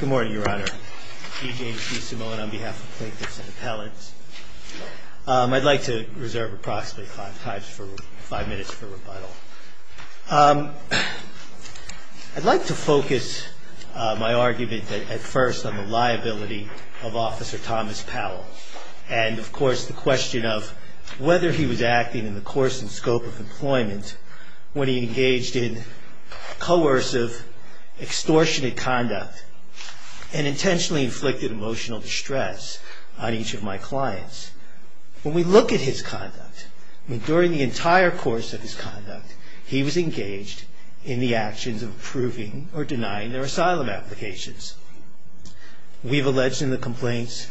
Good morning, Your Honor. G. James B. Simone on behalf of plaintiffs and appellants. I'd like to reserve approximately five minutes for rebuttal. I'd like to focus my argument at first on the liability of Officer Thomas Powell and, of course, the question of whether he was acting in the course and scope of employment when he engaged in coercive, extortionate conduct and intentionally inflicted emotional distress on each of my clients. When we look at his conduct, during the entire course of his conduct, he was engaged in the actions of approving or denying their asylum applications. We've alleged in the complaints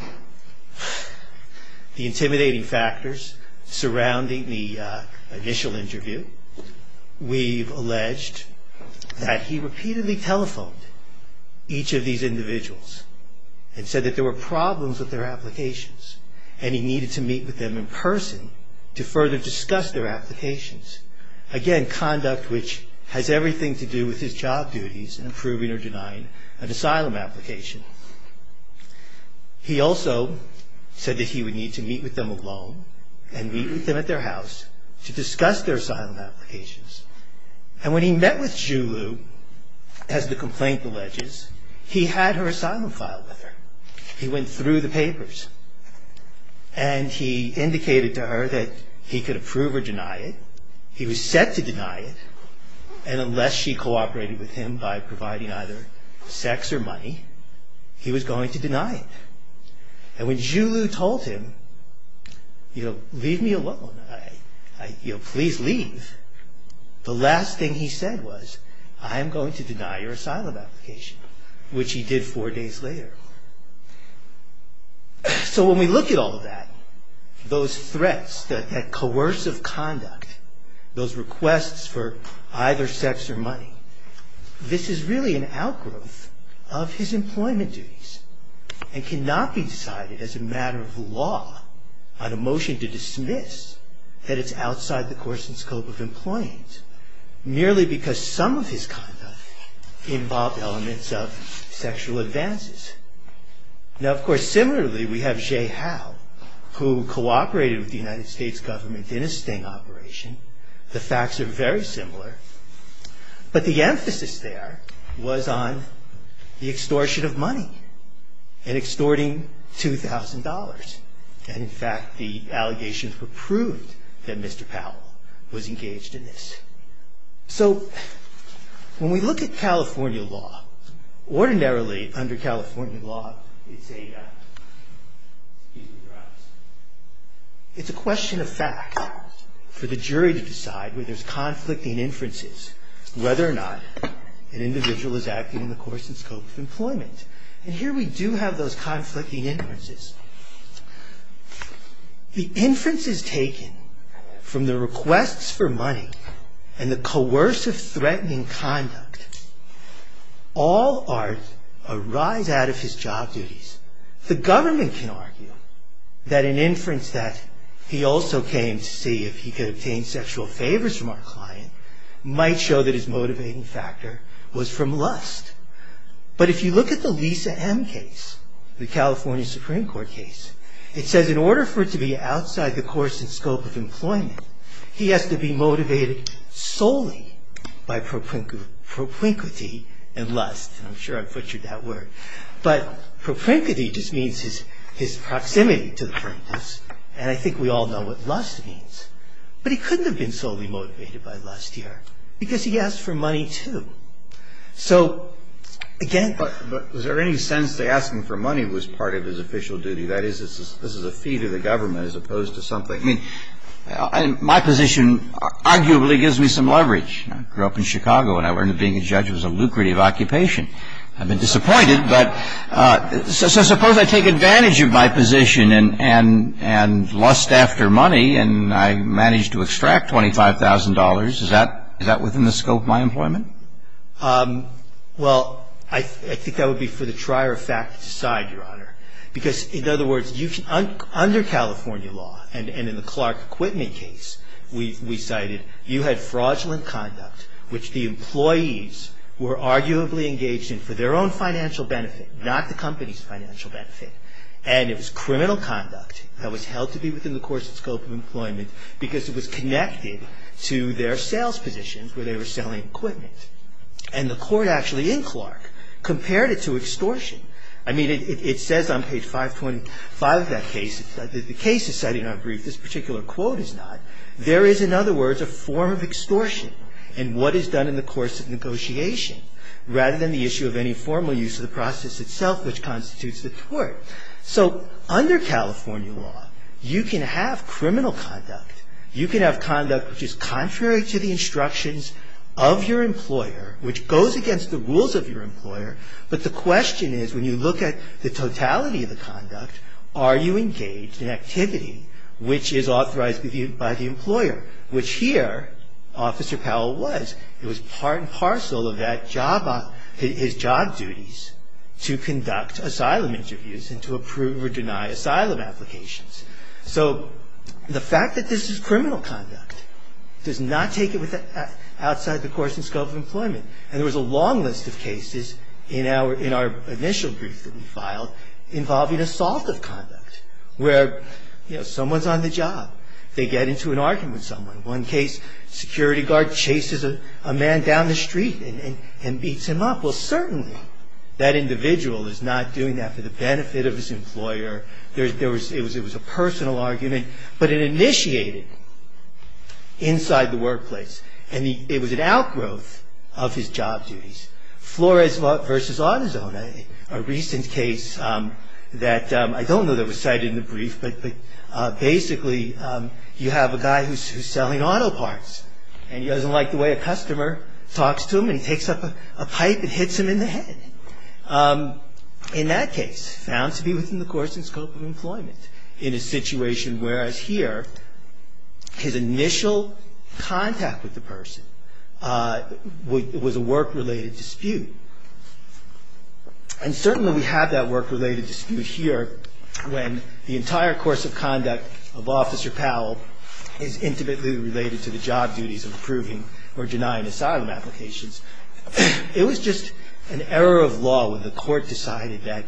the intimidating factors surrounding the initial interview. We've alleged that he repeatedly telephoned each of these individuals and said that there were problems with their applications and he needed to meet with them in person to further discuss their applications. Again, conduct which has everything to do with his job duties in approving or denying an asylum application. He also said that he would need to meet with them alone and meet with them at their house to discuss their asylum applications. And when he met with Zhu Lu, as the complaint alleges, he had her asylum file with her. He went through the papers and he indicated to her that he could approve or deny it. He was set to deny it and unless she cooperated with him by providing either sex or money, he was going to deny it. And when Zhu Lu told him, leave me alone, please leave, the last thing he said was, I am going to deny your asylum application, which he did four days later. So when we look at all of that, those threats, that coercive conduct, those requests for either sex or money, this is really an outgrowth of his employment duties and cannot be decided as a matter of law on a motion to dismiss that it's outside the coercive scope of employment, merely because some of his conduct involved elements of sexual advances. Now, of course, similarly, we have Zhe Hao, who cooperated with the United States government in a sting operation. The facts are very similar. And extorting $2,000. And in fact, the allegations were proved that Mr. Powell was engaged in this. So when we look at California law, ordinarily under California law, it's a question of fact for the jury to decide whether there's conflict in inferences, whether or not an individual is acting in the coercive scope of employment. And here we do have those conflicting inferences. The inferences taken from the requests for money and the coercive threatening conduct all arise out of his job duties. The government can argue that an inference that he also came to see if he could obtain sexual favors from our client might show that his motivating factor was from lust. But if you look at the Lisa M case, the California Supreme Court case, it says in order for it to be outside the coercive scope of employment, he has to be motivated solely by propinquity and lust. I'm sure I butchered that word. But propinquity just means his proximity to the plaintiffs. And I think we all know what lust means. But he couldn't have been solely motivated by lust here because he asked for money, too. So, again ---- But was there any sense that asking for money was part of his official duty? That is, this is a fee to the government as opposed to something ---- I mean, my position arguably gives me some leverage. I grew up in Chicago, and I learned that being a judge was a lucrative occupation. I've been disappointed, but so suppose I take advantage of my position and lust after money, and I manage to extract $25,000. Is that within the scope of my employment? Well, I think that would be for the trier of fact to decide, Your Honor. Because, in other words, under California law and in the Clark acquitment case, we cited you had fraudulent conduct which the employees were arguably engaged in for their own financial benefit, not the company's financial benefit. And it was criminal conduct that was held to be within the course and scope of employment because it was connected to their sales positions where they were selling equipment. And the court actually in Clark compared it to extortion. I mean, it says on page 525 of that case, the case is cited in our brief. This particular quote is not. There is, in other words, a form of extortion in what is done in the course of negotiation rather than the issue of any formal use of the process itself, which constitutes the tort. So under California law, you can have criminal conduct. You can have conduct which is contrary to the instructions of your employer, which goes against the rules of your employer. But the question is, when you look at the totality of the conduct, are you engaged in activity which is authorized by the employer, which here Officer Powell was. It was part and parcel of his job duties to conduct asylum interviews and to approve or deny asylum applications. So the fact that this is criminal conduct does not take it outside the course and scope of employment. And there was a long list of cases in our initial brief that we filed involving assault of conduct where someone's on the job, they get into an argument with someone. One case, security guard chases a man down the street and beats him up. Well, certainly that individual is not doing that for the benefit of his employer. It was a personal argument, but it initiated inside the workplace. And it was an outgrowth of his job duties. Flores v. Autozone, a recent case that I don't know that was cited in the brief, but basically you have a guy who's selling auto parts, and he doesn't like the way a customer talks to him, and he takes up a pipe and hits him in the head. In that case, found to be within the course and scope of employment in a situation whereas here his initial contact with the person was a work-related dispute. And certainly we have that work-related dispute here when the entire course of conduct of Officer Powell is intimately related to the job duties of approving or denying asylum applications. It was just an error of law when the court decided that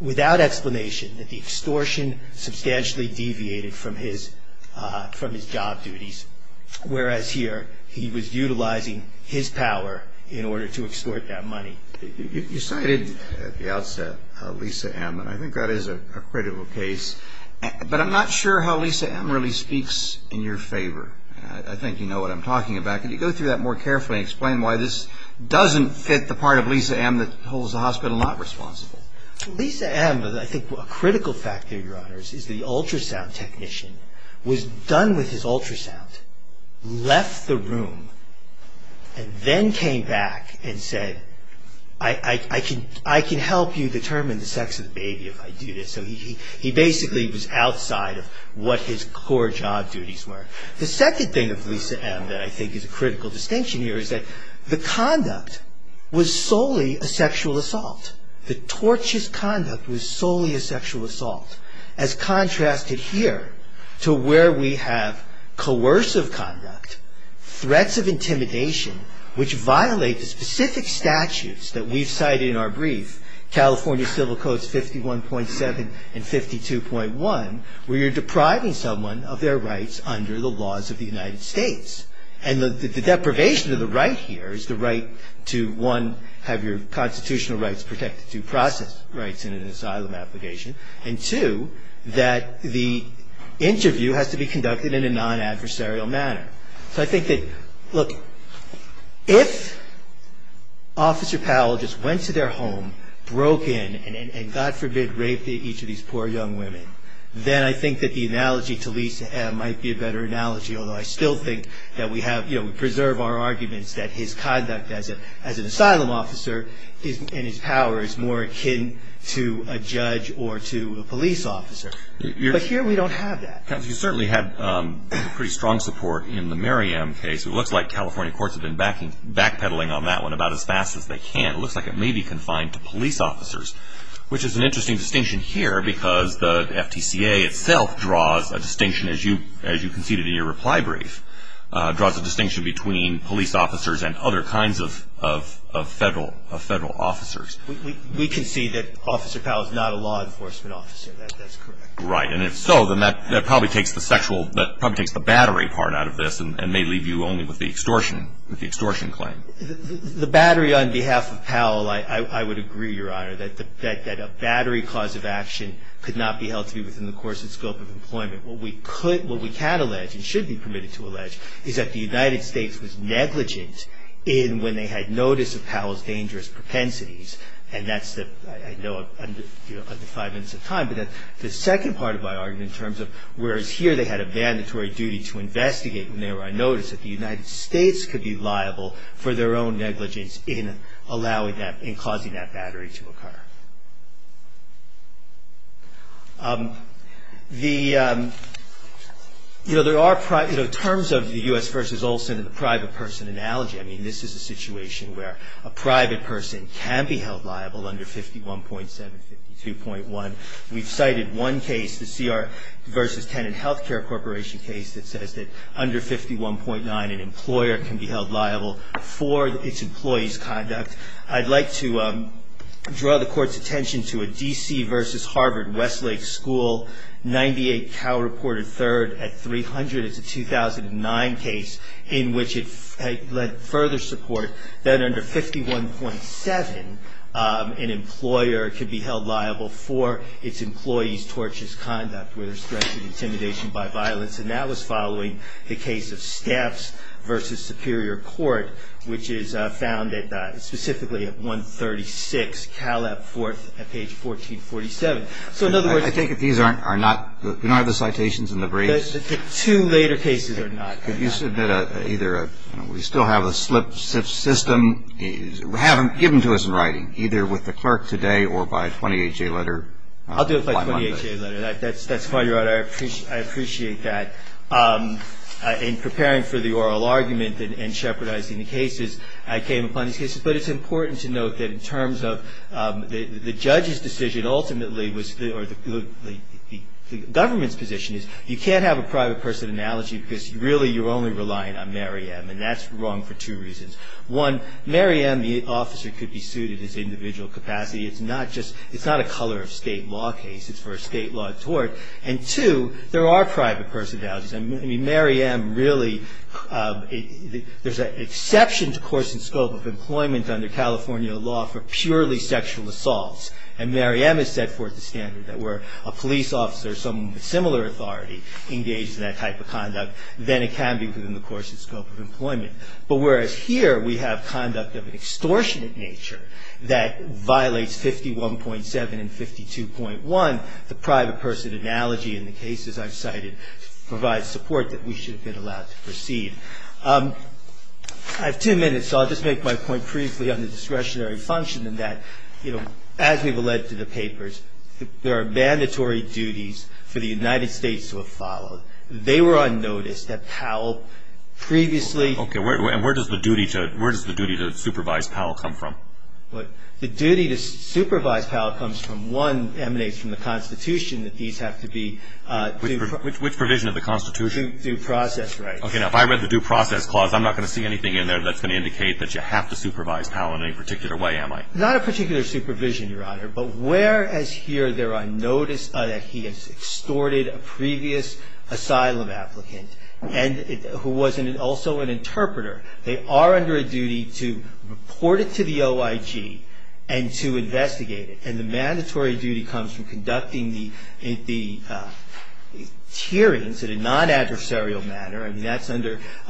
without explanation that the extortion substantially deviated from his job duties, whereas here he was utilizing his power in order to extort that money. You cited at the outset Lisa M., and I think that is a critical case, but I'm not sure how Lisa M. really speaks in your favor. I think you know what I'm talking about. Can you go through that more carefully and explain why this doesn't fit the part of Lisa M. that holds the hospital not responsible? Lisa M., I think a critical factor, Your Honors, is the ultrasound technician was done with his ultrasound, left the room, and then came back and said, I can help you determine the sex of the baby if I do this. So he basically was outside of what his core job duties were. The second thing of Lisa M. that I think is a critical distinction here is that the conduct was solely a sexual assault. The torturous conduct was solely a sexual assault. As contrasted here to where we have coercive conduct, threats of intimidation, which violate the specific statutes that we've cited in our brief, California Civil Codes 51.7 and 52.1, where you're depriving someone of their rights under the laws of the United States. And the deprivation of the right here is the right to, one, have your constitutional rights protected, due process rights in an asylum application, and two, that the interview has to be conducted in a non-adversarial manner. So I think that, look, if Officer Powell just went to their home, broke in, and God forbid, raped each of these poor young women, then I think that the analogy to Lisa M. might be a better analogy, although I still think that we have, you know, we preserve our arguments that his conduct as an asylum officer and his power is more akin to a judge or to a police officer. But here we don't have that. You certainly have pretty strong support in the Miriam case. It looks like California courts have been backpedaling on that one about as fast as they can. It looks like it may be confined to police officers, which is an interesting distinction here because the FTCA itself draws a distinction, as you conceded in your reply brief, draws a distinction between police officers and other kinds of Federal officers. We concede that Officer Powell is not a law enforcement officer. That's correct. Right. And if so, then that probably takes the sexual, that probably takes the battery part out of this and may leave you only with the extortion claim. The battery on behalf of Powell, I would agree, Your Honor, that a battery cause of action could not be held to be within the course and scope of employment. What we could, what we can allege and should be permitted to allege, is that the United States was negligent in when they had notice of Powell's dangerous propensities. And that's the, I know I'm under five minutes of time, but the second part of my argument in terms of whereas here they had a mandatory duty to investigate when they were on notice, that the United States could be liable for their own negligence in allowing that, in causing that battery to occur. The, you know, there are, you know, terms of the U.S. v. Olson and the private person analogy. I mean, this is a situation where a private person can be held liable under 51.7, 52.1. We've cited one case, the CR v. Tenant Healthcare Corporation case, that says that under 51.9 an employer can be held liable for its employee's conduct. I'd like to draw the court's attention to a D.C. v. Harvard-Westlake School, 98 Cal reported third at 300. It's a 2009 case in which it led further support that under 51.7 an employer could be held liable for its employee's tortious conduct where there's threats of intimidation by violence. And that was following the case of Steps v. Superior Court, which is found specifically at 136 Caleb 4th at page 1447. So in other words- I think that these are not the citations in the briefs. The two later cases are not. Could you submit either a, you know, we still have a slip system. Give them to us in writing, either with the clerk today or by a 20HA letter by Monday. I'll do it by a 20HA letter. That's fine, Your Honor. I appreciate that. In preparing for the oral argument and shepherdizing the cases, I came upon these cases. But it's important to note that in terms of the judge's decision ultimately or the government's position is you can't have a private person analogy because really you're only relying on Mary M. And that's wrong for two reasons. One, Mary M., the officer, could be sued at his individual capacity. It's not a color of state law case. It's for a state law tort. And, two, there are private person analogies. I mean, Mary M., really, there's an exception to course and scope of employment under California law for purely sexual assaults. And Mary M. has set forth the standard that were a police officer, someone with similar authority engaged in that type of conduct, then it can be within the course and scope of employment. But whereas here we have conduct of an extortionate nature that violates 51.7 and 52.1, the private person analogy in the cases I've cited provides support that we should have been allowed to proceed. I have two minutes, so I'll just make my point briefly on the discretionary function in that, you know, as we've led to the papers, there are mandatory duties for the United States to have followed. They were on notice that Powell previously. Okay. And where does the duty to supervise Powell come from? The duty to supervise Powell comes from one emanates from the Constitution that these have to be. Which provision of the Constitution? Due process rights. Okay. Now, if I read the due process clause, I'm not going to see anything in there that's going to indicate that you have to supervise Powell in any particular way, am I? Not a particular supervision, Your Honor. But whereas here there are notice that he has extorted a previous asylum applicant and who was also an interpreter, they are under a duty to report it to the OIG and to investigate it. And the mandatory duty comes from conducting the hearings in a non-adversarial manner. I mean, that's under the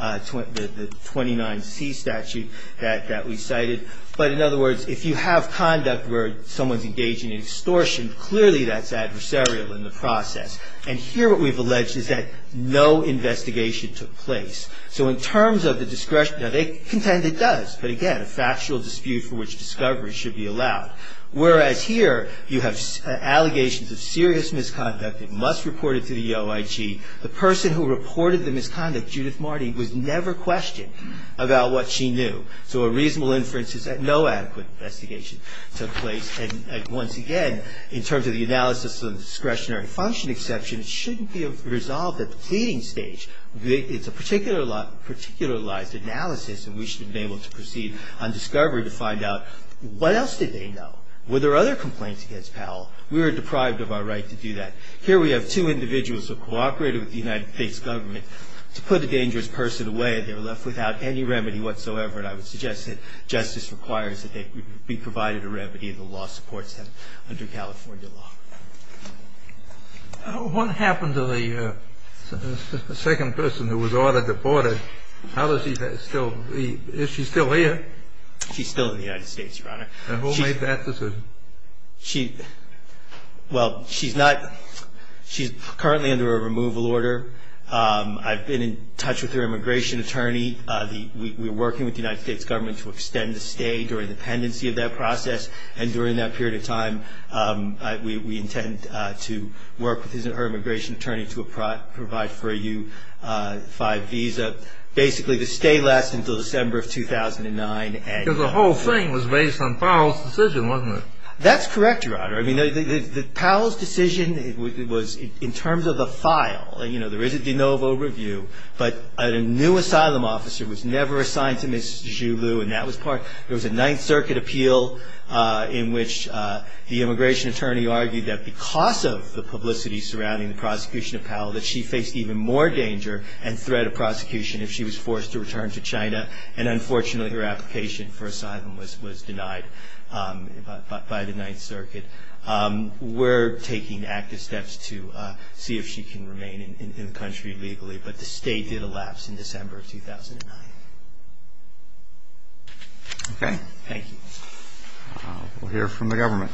29C statute that we cited. But in other words, if you have conduct where someone's engaging in extortion, clearly that's adversarial in the process. And here what we've alleged is that no investigation took place. So in terms of the discretionary, now they contend it does. But again, a factual dispute for which discovery should be allowed. Whereas here you have allegations of serious misconduct, it must report it to the OIG. The person who reported the misconduct, Judith Marty, was never questioned about what she knew. So a reasonable inference is that no adequate investigation took place. And once again, in terms of the analysis of the discretionary function exception, it shouldn't be resolved at the pleading stage. It's a particularized analysis, and we should be able to proceed on discovery to find out, what else did they know? Were there other complaints against Powell? We were deprived of our right to do that. Here we have two individuals who cooperated with the United States government to put a dangerous person away, and they were left without any remedy whatsoever. And I would suggest that justice requires that they be provided a remedy, and the law supports that under California law. What happened to the second person who was ordered deported? Is she still here? She's still in the United States, Your Honor. And who made that decision? Well, she's currently under a removal order. I've been in touch with her immigration attorney. We're working with the United States government to extend the stay during the pendency of that process. And during that period of time, we intend to work with her immigration attorney to provide for a U-5 visa, basically to stay last until December of 2009. Because the whole thing was based on Powell's decision, wasn't it? That's correct, Your Honor. I mean, Powell's decision was in terms of the file. You know, there is a de novo review, but a new asylum officer was never assigned to Ms. Julew, and that was part of it. There was a Ninth Circuit appeal in which the immigration attorney argued that because of the publicity surrounding the prosecution of Powell, that she faced even more danger and threat of prosecution if she was forced to return to China, and unfortunately her application for asylum was denied by the Ninth Circuit. We're taking active steps to see if she can remain in the country legally, but the stay did elapse in December of 2009. Okay. Thank you. We'll hear from the government.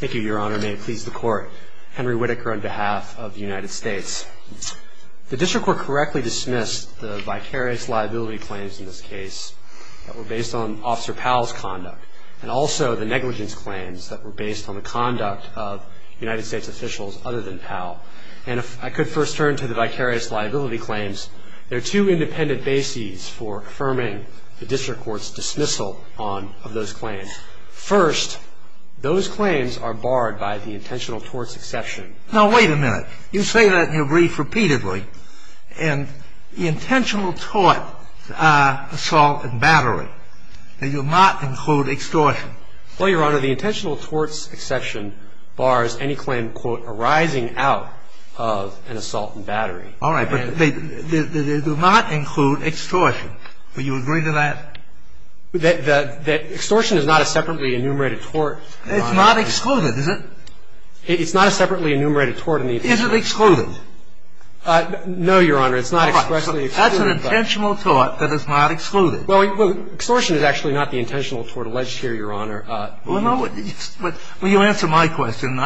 Thank you, Your Honor. May it please the Court. Henry Whitaker on behalf of the United States. The district court correctly dismissed the vicarious liability claims in this case that were based on Officer Powell's conduct, and also the negligence claims that were based on the conduct of United States officials other than Powell. And if I could first turn to the vicarious liability claims, there are two independent bases for affirming the district court's dismissal of those claims. First, those claims are barred by the intentional torts exception. Now, wait a minute. You say that in your brief repeatedly, and the intentional tort assault and battery, they do not include extortion. Well, Your Honor, the intentional torts exception bars any claim, quote, arising out of an assault and battery. All right, but they do not include extortion. Would you agree to that? Extortion is not a separately enumerated tort, Your Honor. It's not excluded, is it? It's not a separately enumerated tort. Is it excluded? No, Your Honor. It's not expressly excluded. That's an intentional tort that is not excluded. Well, extortion is actually not the intentional tort alleged here, Your Honor. Well, you answer my question.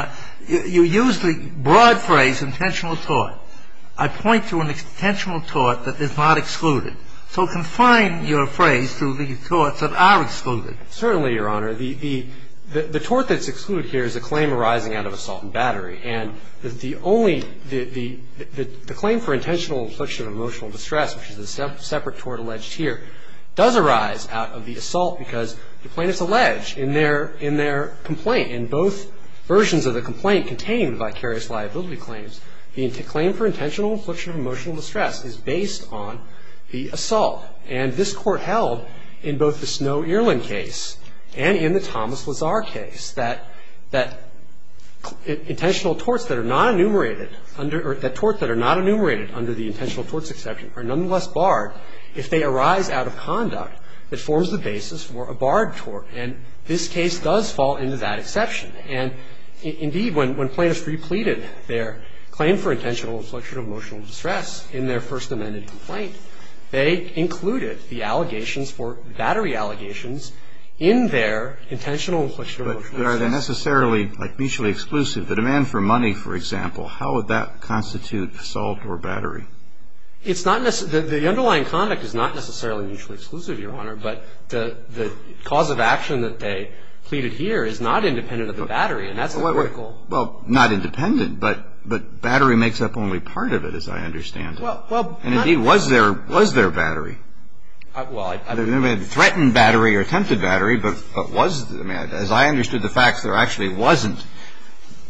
You use the broad phrase intentional tort. I point to an intentional tort that is not excluded. So confine your phrase to the torts that are excluded. Certainly, Your Honor. The tort that's excluded here is a claim arising out of assault and battery. And the claim for intentional infliction of emotional distress, which is a separate tort alleged here, does arise out of the assault because the plaintiff's alleged in their complaint, in both versions of the complaint containing the vicarious liability claims, the claim for intentional infliction of emotional distress is based on the assault. And this Court held, in both the Snow-Earland case and in the Thomas Lazar case, that intentional torts that are not enumerated under the intentional torts exception are nonetheless barred if they arise out of conduct that forms the basis for a barred tort. And this case does fall into that exception. And, indeed, when plaintiffs repleted their claim for intentional infliction of emotional distress in their first amended complaint, they included the allegations for battery allegations in their intentional infliction of emotional distress. But are they necessarily mutually exclusive? The demand for money, for example, how would that constitute assault or battery? It's not necessarily – the underlying conduct is not necessarily mutually exclusive, Your Honor, but the cause of action that they pleaded here is not independent of the battery. And that's a critical – Well, not independent, but battery makes up only part of it, as I understand it. And, indeed, was there battery? Well, I don't know if they threatened battery or attempted battery, but was – I mean, as I understood the facts, there actually wasn't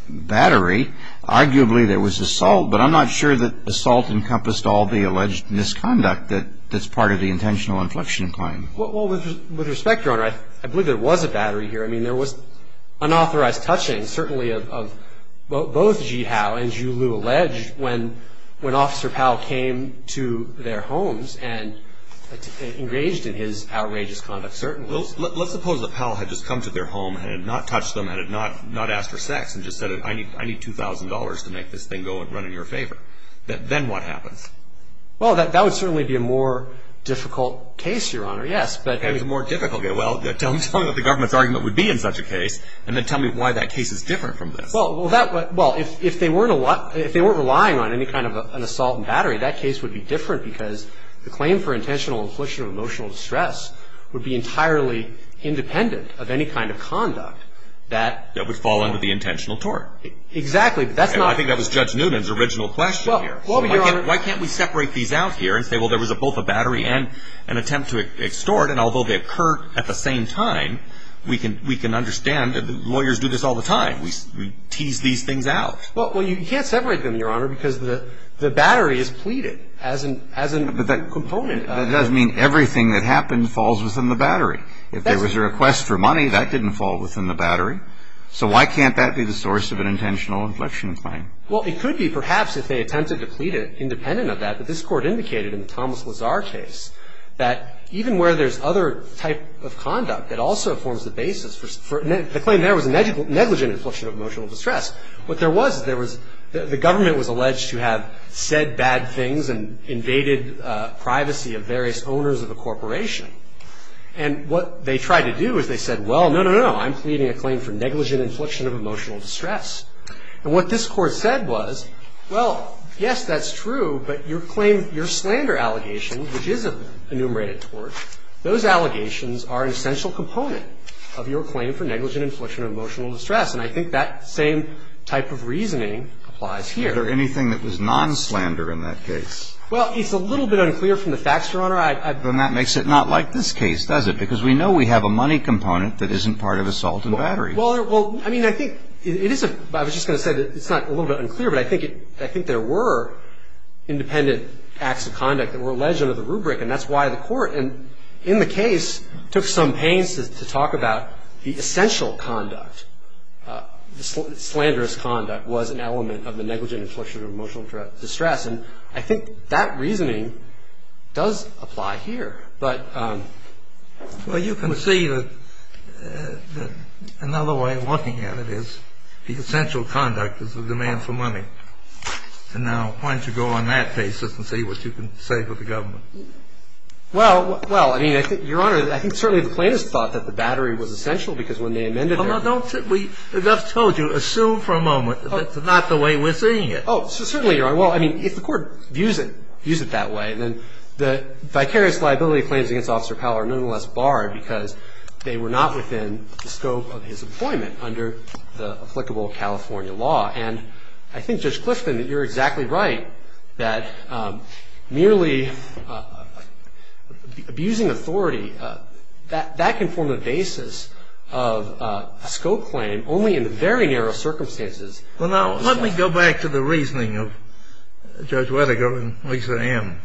battery. Arguably, there was assault, but I'm not sure that assault encompassed all the alleged misconduct that's part of the intentional inflection claim. Well, with respect, Your Honor, I believe there was a battery here. I mean, there was unauthorized touching, certainly, of both Ji Hao and Ju Liu alleged when Officer Powell came to their homes and engaged in his outrageous conduct, certainly. Well, let's suppose that Powell had just come to their home and had not touched them and had not asked for sex and just said, I need $2,000 to make this thing go and run in your favor. Then what happens? Well, that would certainly be a more difficult case, Your Honor, yes, but – Well, that would certainly be a more difficult case. Well, tell me what the government's argument would be in such a case and then tell me why that case is different from this. Well, if they weren't relying on any kind of an assault and battery, that case would be different because the claim for intentional inflection or emotional distress would be entirely independent of any kind of conduct that – That would fall under the intentional tort. Exactly, but that's not – I think that was Judge Noonan's original question here. Why can't we separate these out here and say, well, there was both a battery and an attempt to extort, and although they occurred at the same time, we can understand that lawyers do this all the time. We tease these things out. Well, you can't separate them, Your Honor, because the battery is pleaded as a component. That doesn't mean everything that happened falls within the battery. If there was a request for money, that didn't fall within the battery. So why can't that be the source of an intentional inflection claim? Well, it could be, perhaps, if they attempted to plead it independent of that, but this Court indicated in the Thomas Lazar case that even where there's other type of conduct, it also forms the basis for – the claim there was a negligent inflection of emotional distress. What there was is there was – the government was alleged to have said bad things and invaded privacy of various owners of a corporation, and what they tried to do is they said, well, no, no, no, no, I'm pleading a claim for negligent inflection of emotional distress. And what this Court said was, well, yes, that's true, but your claim – your slander allegation, which is an enumerated tort, those allegations are an essential component of your claim for negligent inflection of emotional distress, and I think that same type of reasoning applies here. Is there anything that was non-slander in that case? Well, it's a little bit unclear from the facts, Your Honor. Then that makes it not like this case, does it? Because we know we have a money component that isn't part of assault and battery. Well, I mean, I think it is – I was just going to say that it's not a little bit unclear, but I think there were independent acts of conduct that were alleged under the rubric, and that's why the Court in the case took some pains to talk about the essential conduct. The slanderous conduct was an element of the negligent inflection of emotional distress, and I think that reasoning does apply here. Well, you can see that another way of looking at it is the essential conduct is the demand for money, and now why don't you go on that basis and see what you can say for the government? Well, well, I mean, Your Honor, I think certainly the plaintiffs thought that the battery was essential because when they amended it – Well, now, don't – we just told you, assume for a moment that it's not the way we're seeing it. Oh, certainly, Your Honor. Well, I mean, if the Court views it that way, then the vicarious liability claims against Officer Powell are nonetheless barred because they were not within the scope of his employment under the applicable California law. And I think, Judge Clifton, that you're exactly right that merely abusing authority, that can form the basis of a scope claim only in very narrow circumstances. Well, now, let me go back to the reasoning of Judge Whittaker and Lisa Ann.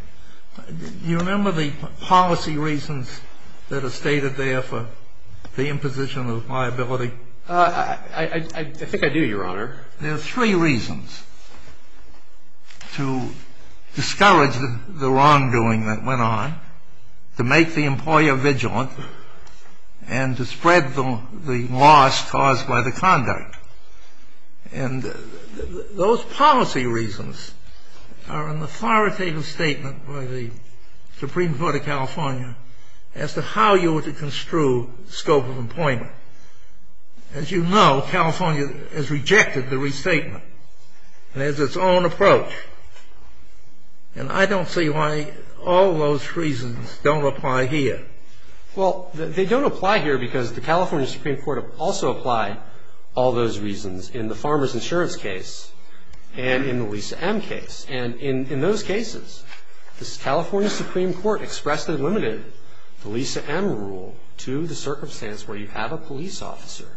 Do you remember the policy reasons that are stated there for the imposition of liability? I think I do, Your Honor. There are three reasons. To discourage the wrongdoing that went on, to make the employer vigilant, and to spread the loss caused by the conduct. And those policy reasons are an authoritative statement by the Supreme Court of California as to how you were to construe scope of employment. As you know, California has rejected the restatement and has its own approach. And I don't see why all those reasons don't apply here. Well, they don't apply here because the California Supreme Court also applied all those reasons in the Farmer's Insurance case and in the Lisa M. case. And in those cases, the California Supreme Court expressed the limited Lisa M. rule to the circumstance where you have a police officer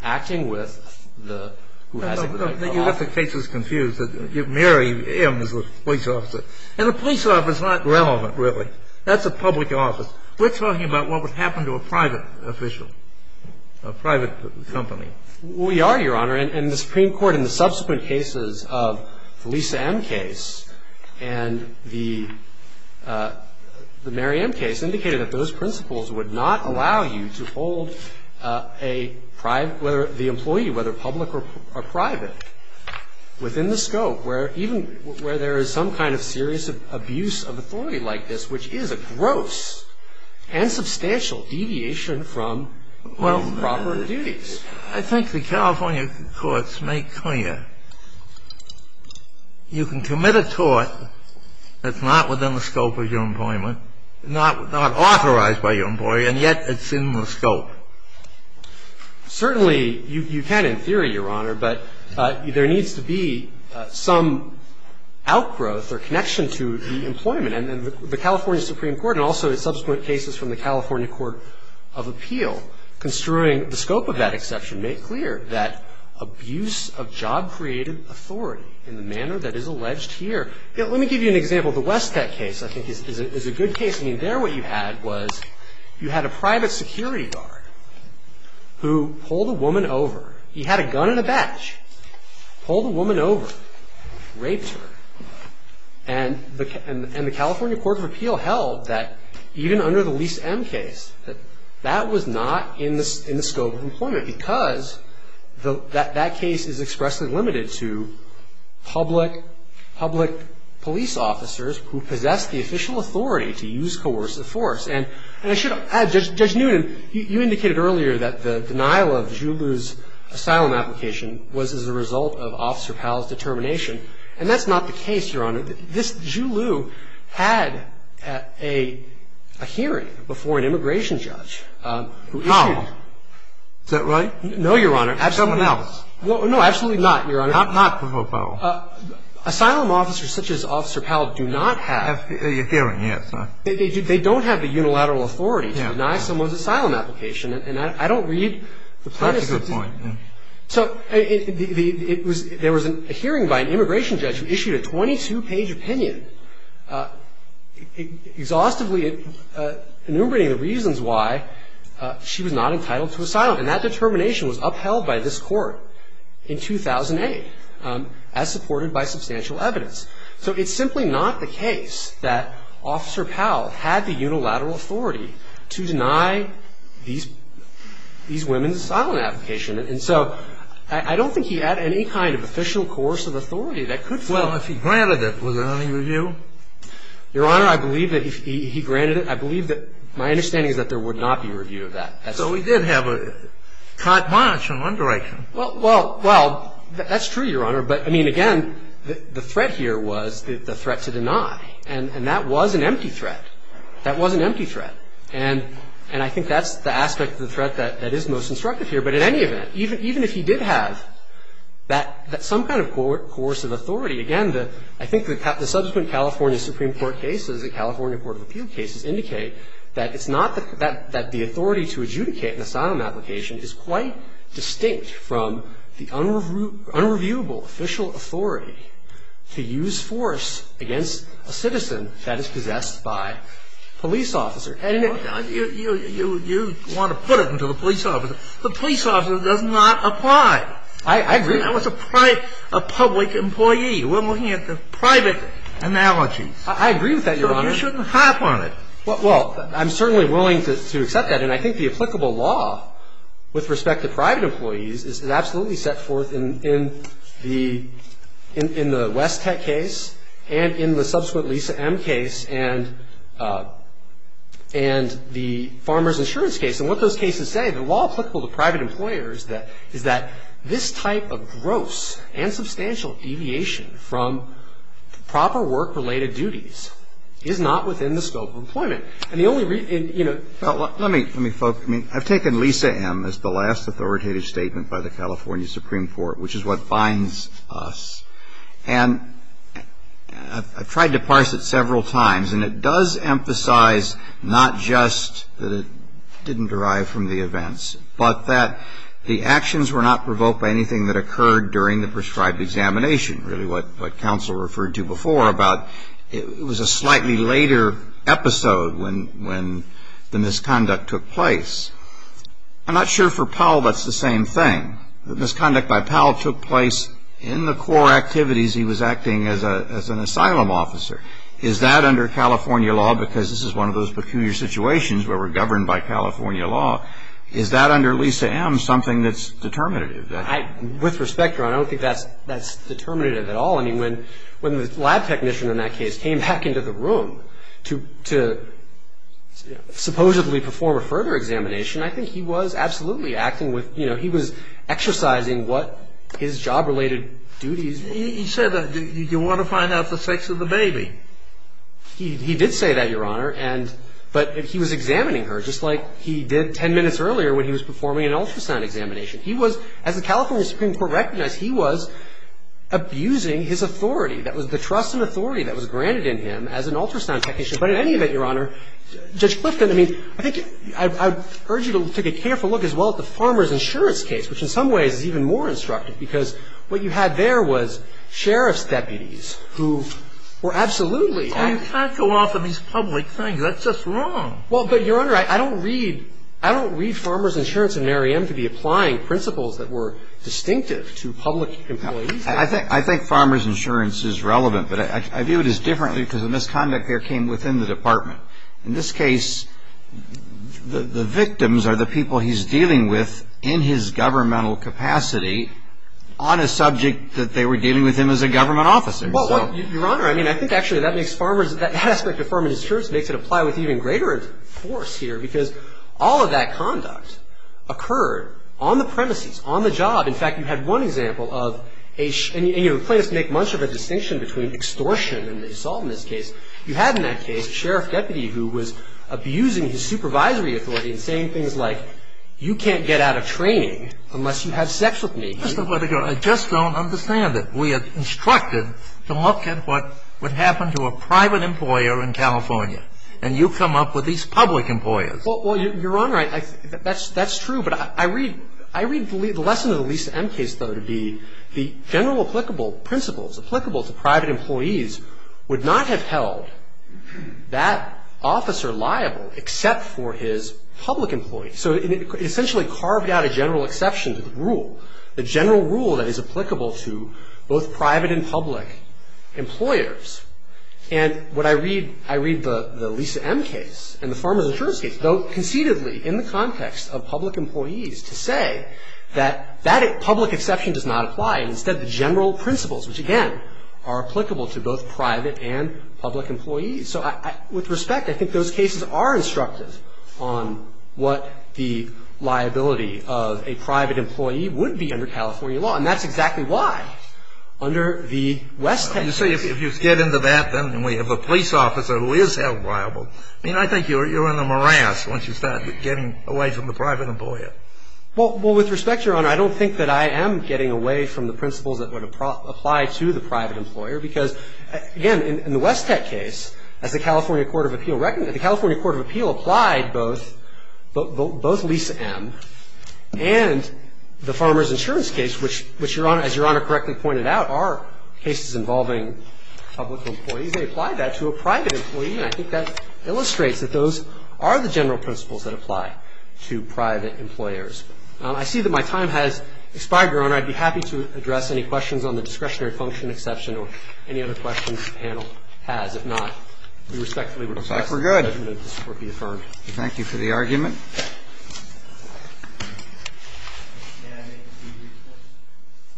acting with the ---- Then you have the cases confused. Mary M. is the police officer. And the police officer is not relevant, really. That's a public office. We're talking about what would happen to a private official, a private company. We are, Your Honor. And the Supreme Court in the subsequent cases of the Lisa M. case and the Mary M. case indicated that those principles would not allow you to hold a private ---- within the scope where even where there is some kind of serious abuse of authority like this, which is a gross and substantial deviation from proper duties. I think the California courts make clear you can commit a tort that's not within the scope of your employment, not authorized by your employer, and yet it's in the scope. Certainly, you can in theory, Your Honor, but there needs to be some outgrowth or connection to the employment. And the California Supreme Court and also the subsequent cases from the California Court of Appeal construing the scope of that exception make clear that abuse of job created authority in the manner that is alleged here. Let me give you an example. The Westat case, I think, is a good case. I mean, there what you had was you had a private security guard who pulled a woman over. He had a gun and a badge, pulled a woman over, raped her. And the California Court of Appeal held that even under the Lisa M. case, that that was not in the scope of employment because that case is expressly limited to public police officers who possess the official authority to use coercive force. And I should add, Judge Newton, you indicated earlier that the denial of Jouleau's asylum application was as a result of Officer Powell's determination. And that's not the case, Your Honor. This Jouleau had a hearing before an immigration judge who issued. No. Is that right? No, Your Honor. Someone else. Well, no, absolutely not, Your Honor. Not Professor Powell. Asylum officers such as Officer Powell do not have. The hearing, yes. They don't have the unilateral authority to deny someone's asylum application. And I don't read the premises. That's a good point. So there was a hearing by an immigration judge who issued a 22-page opinion exhaustively enumerating the reasons why she was not entitled to asylum. And that determination was upheld by this Court in 2008 as supported by substantial evidence. So it's simply not the case that Officer Powell had the unilateral authority to deny these women's asylum application. And so I don't think he had any kind of official course of authority that could follow. Well, if he granted it, was there any review? Your Honor, I believe that if he granted it, I believe that my understanding is that there would not be review of that. So he did have a content monitoring underwriting. Well, that's true, Your Honor. But, I mean, again, the threat here was the threat to deny. And that was an empty threat. That was an empty threat. And I think that's the aspect of the threat that is most instructive here. But in any event, even if he did have some kind of course of authority, again, I think the subsequent California Supreme Court cases, the California Court of Appeal cases indicate that it's not that the authority to adjudicate an asylum application is quite distinct from the unreviewable official authority to use force against a citizen that is possessed by a police officer. You want to put it into the police officer. The police officer does not apply. I agree. That was a public employee. I agree with that, Your Honor. But you shouldn't hop on it. Well, I'm certainly willing to accept that. And I think the applicable law with respect to private employees is absolutely set forth in the West Tech case and in the subsequent Lisa M case and the Farmers Insurance case. And what those cases say, the law applicable to private employers is that this type of gross and substantial deviation from proper work-related duties is not within the scope of employment. And the only reason, you know ---- Well, let me focus. I mean, I've taken Lisa M as the last authoritative statement by the California Supreme Court, which is what binds us. And I've tried to parse it several times, and it does emphasize not just that it didn't derive from the events, but that the actions were not provoked by anything that occurred during the prescribed examination, really what counsel referred to before about it was a slightly later episode when the misconduct took place. I'm not sure for Powell that's the same thing. The misconduct by Powell took place in the core activities he was acting as an asylum officer. Is that under California law because this is one of those peculiar situations where California law, is that under Lisa M something that's determinative? With respect, Your Honor, I don't think that's determinative at all. I mean, when the lab technician in that case came back into the room to supposedly perform a further examination, I think he was absolutely acting with, you know, he was exercising what his job-related duties were. He said that you want to find out the sex of the baby. He did say that, Your Honor. But he was examining her just like he did ten minutes earlier when he was performing an ultrasound examination. He was, as the California Supreme Court recognized, he was abusing his authority. That was the trust and authority that was granted in him as an ultrasound technician. But in any event, Your Honor, Judge Clifton, I mean, I think I urge you to take a careful look as well at the farmer's insurance case, which in some ways is even more instructive because what you had there was sheriff's deputies who were absolutely acting. I mean, you can't go off of these public things. That's just wrong. Well, but, Your Honor, I don't read farmer's insurance in Merriam to be applying principles that were distinctive to public employees. I think farmer's insurance is relevant, but I view it as differently because the misconduct there came within the department. In this case, the victims are the people he's dealing with in his governmental capacity on a subject that they were dealing with him as a government officer. Well, Your Honor, I mean, I think actually that makes farmer's – that aspect of farmer's insurance makes it apply with even greater force here because all of that conduct occurred on the premises, on the job. In fact, you had one example of a – and plaintiffs make much of a distinction between extortion and assault in this case. You had in that case a sheriff's deputy who was abusing his supervisory authority and saying things like, you can't get out of training unless you have sex with me. Mr. Whittaker, I just don't understand it. We are instructed to look at what would happen to a private employer in California, and you come up with these public employers. Well, Your Honor, I – that's true, but I read – I read the lesson of the Lisa M. case, though, to be the general applicable principles, applicable to private employees would not have held that officer liable except for his public employee. So it essentially carved out a general exception to the rule, the general rule that is applicable to both private and public employers. And what I read – I read the Lisa M. case and the farmer's insurance case, though conceitedly in the context of public employees, to say that that public exception does not apply, and instead the general principles, which, again, are applicable to both private and public employees. So I – with respect, I think those cases are instructive on what the liability of a private employee would be under California law. And that's exactly why under the West Tech case. You see, if you get into that, then we have a police officer who is held liable. I mean, I think you're in a morass once you start getting away from the private employer. Well, with respect, Your Honor, I don't think that I am getting away from the principles that would apply to the private employer because, again, in the West Tech case, as the California Court of Appeal – the California Court of Appeal applied both – both Lisa M. and the farmer's insurance case, which, Your Honor, as Your Honor correctly pointed out, are cases involving public employees. They applied that to a private employee, and I think that illustrates that those are the general principles that apply to private employers. I see that my time has expired, Your Honor. I'd be happy to address any questions on the discretionary function exception or any other questions the panel has. If not, we respectfully request that the judgment of this Court be affirmed. Thank you for the argument.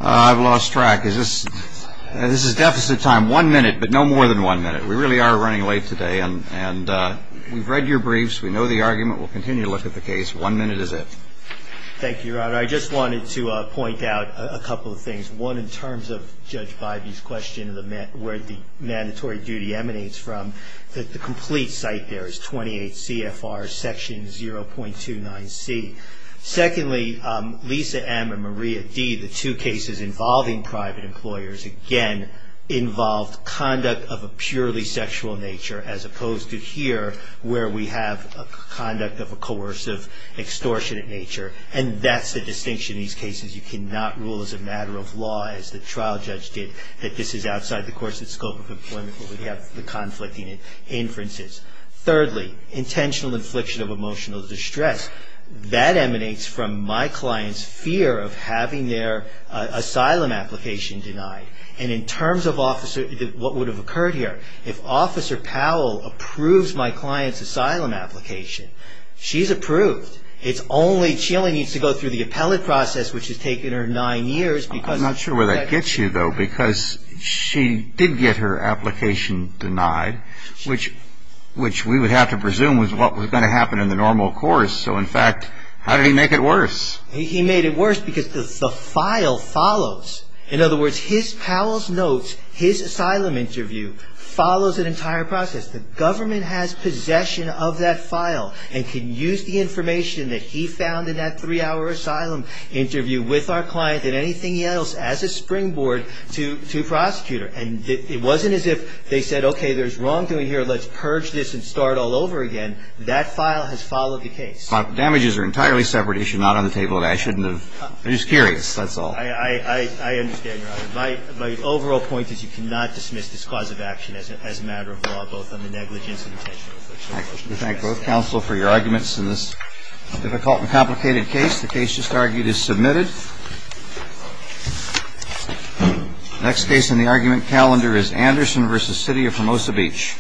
I've lost track. Is this – this is deficit time. One minute, but no more than one minute. We really are running late today, and we've read your briefs. We know the argument. We'll continue to look at the case. One minute is it. Thank you, Your Honor. I just wanted to point out a couple of things. One, in terms of Judge Bybee's question of where the mandatory duty emanates from, that the complete site there is 28 CFR Section 0.29C. Secondly, Lisa M. and Maria D., the two cases involving private employers, again, involved conduct of a purely sexual nature as opposed to here, where we have conduct of a coercive, extortionate nature, and that's the distinction in these cases. You cannot rule as a matter of law, as the trial judge did, that this is outside the coercive scope of employment where we have the conflicting inferences. Thirdly, intentional infliction of emotional distress. That emanates from my client's fear of having their asylum application denied. And in terms of what would have occurred here, if Officer Powell approves my client's asylum application, she's approved. It's only, she only needs to go through the appellate process, which has taken her nine years. I'm not sure where that gets you, though, because she did get her application denied, which we would have to presume was what was going to happen in the normal course. So, in fact, how did he make it worse? He made it worse because the file follows. In other words, Powell's notes, his asylum interview, follows an entire process. The government has possession of that file and can use the information that he found in that three-hour asylum interview with our client and anything else as a springboard to prosecute her. And it wasn't as if they said, okay, there's wrongdoing here. Let's purge this and start all over again. That file has followed the case. Damages are an entirely separate issue, not on the table, and I shouldn't have. I'm just curious, that's all. I understand, Your Honor. My overall point is you cannot dismiss this cause of action as a matter of law, both on the negligence and intentional. We thank both counsel for your arguments in this difficult and complicated case. The case just argued is submitted. The next case in the argument calendar is Anderson v. City of Formosa Beach.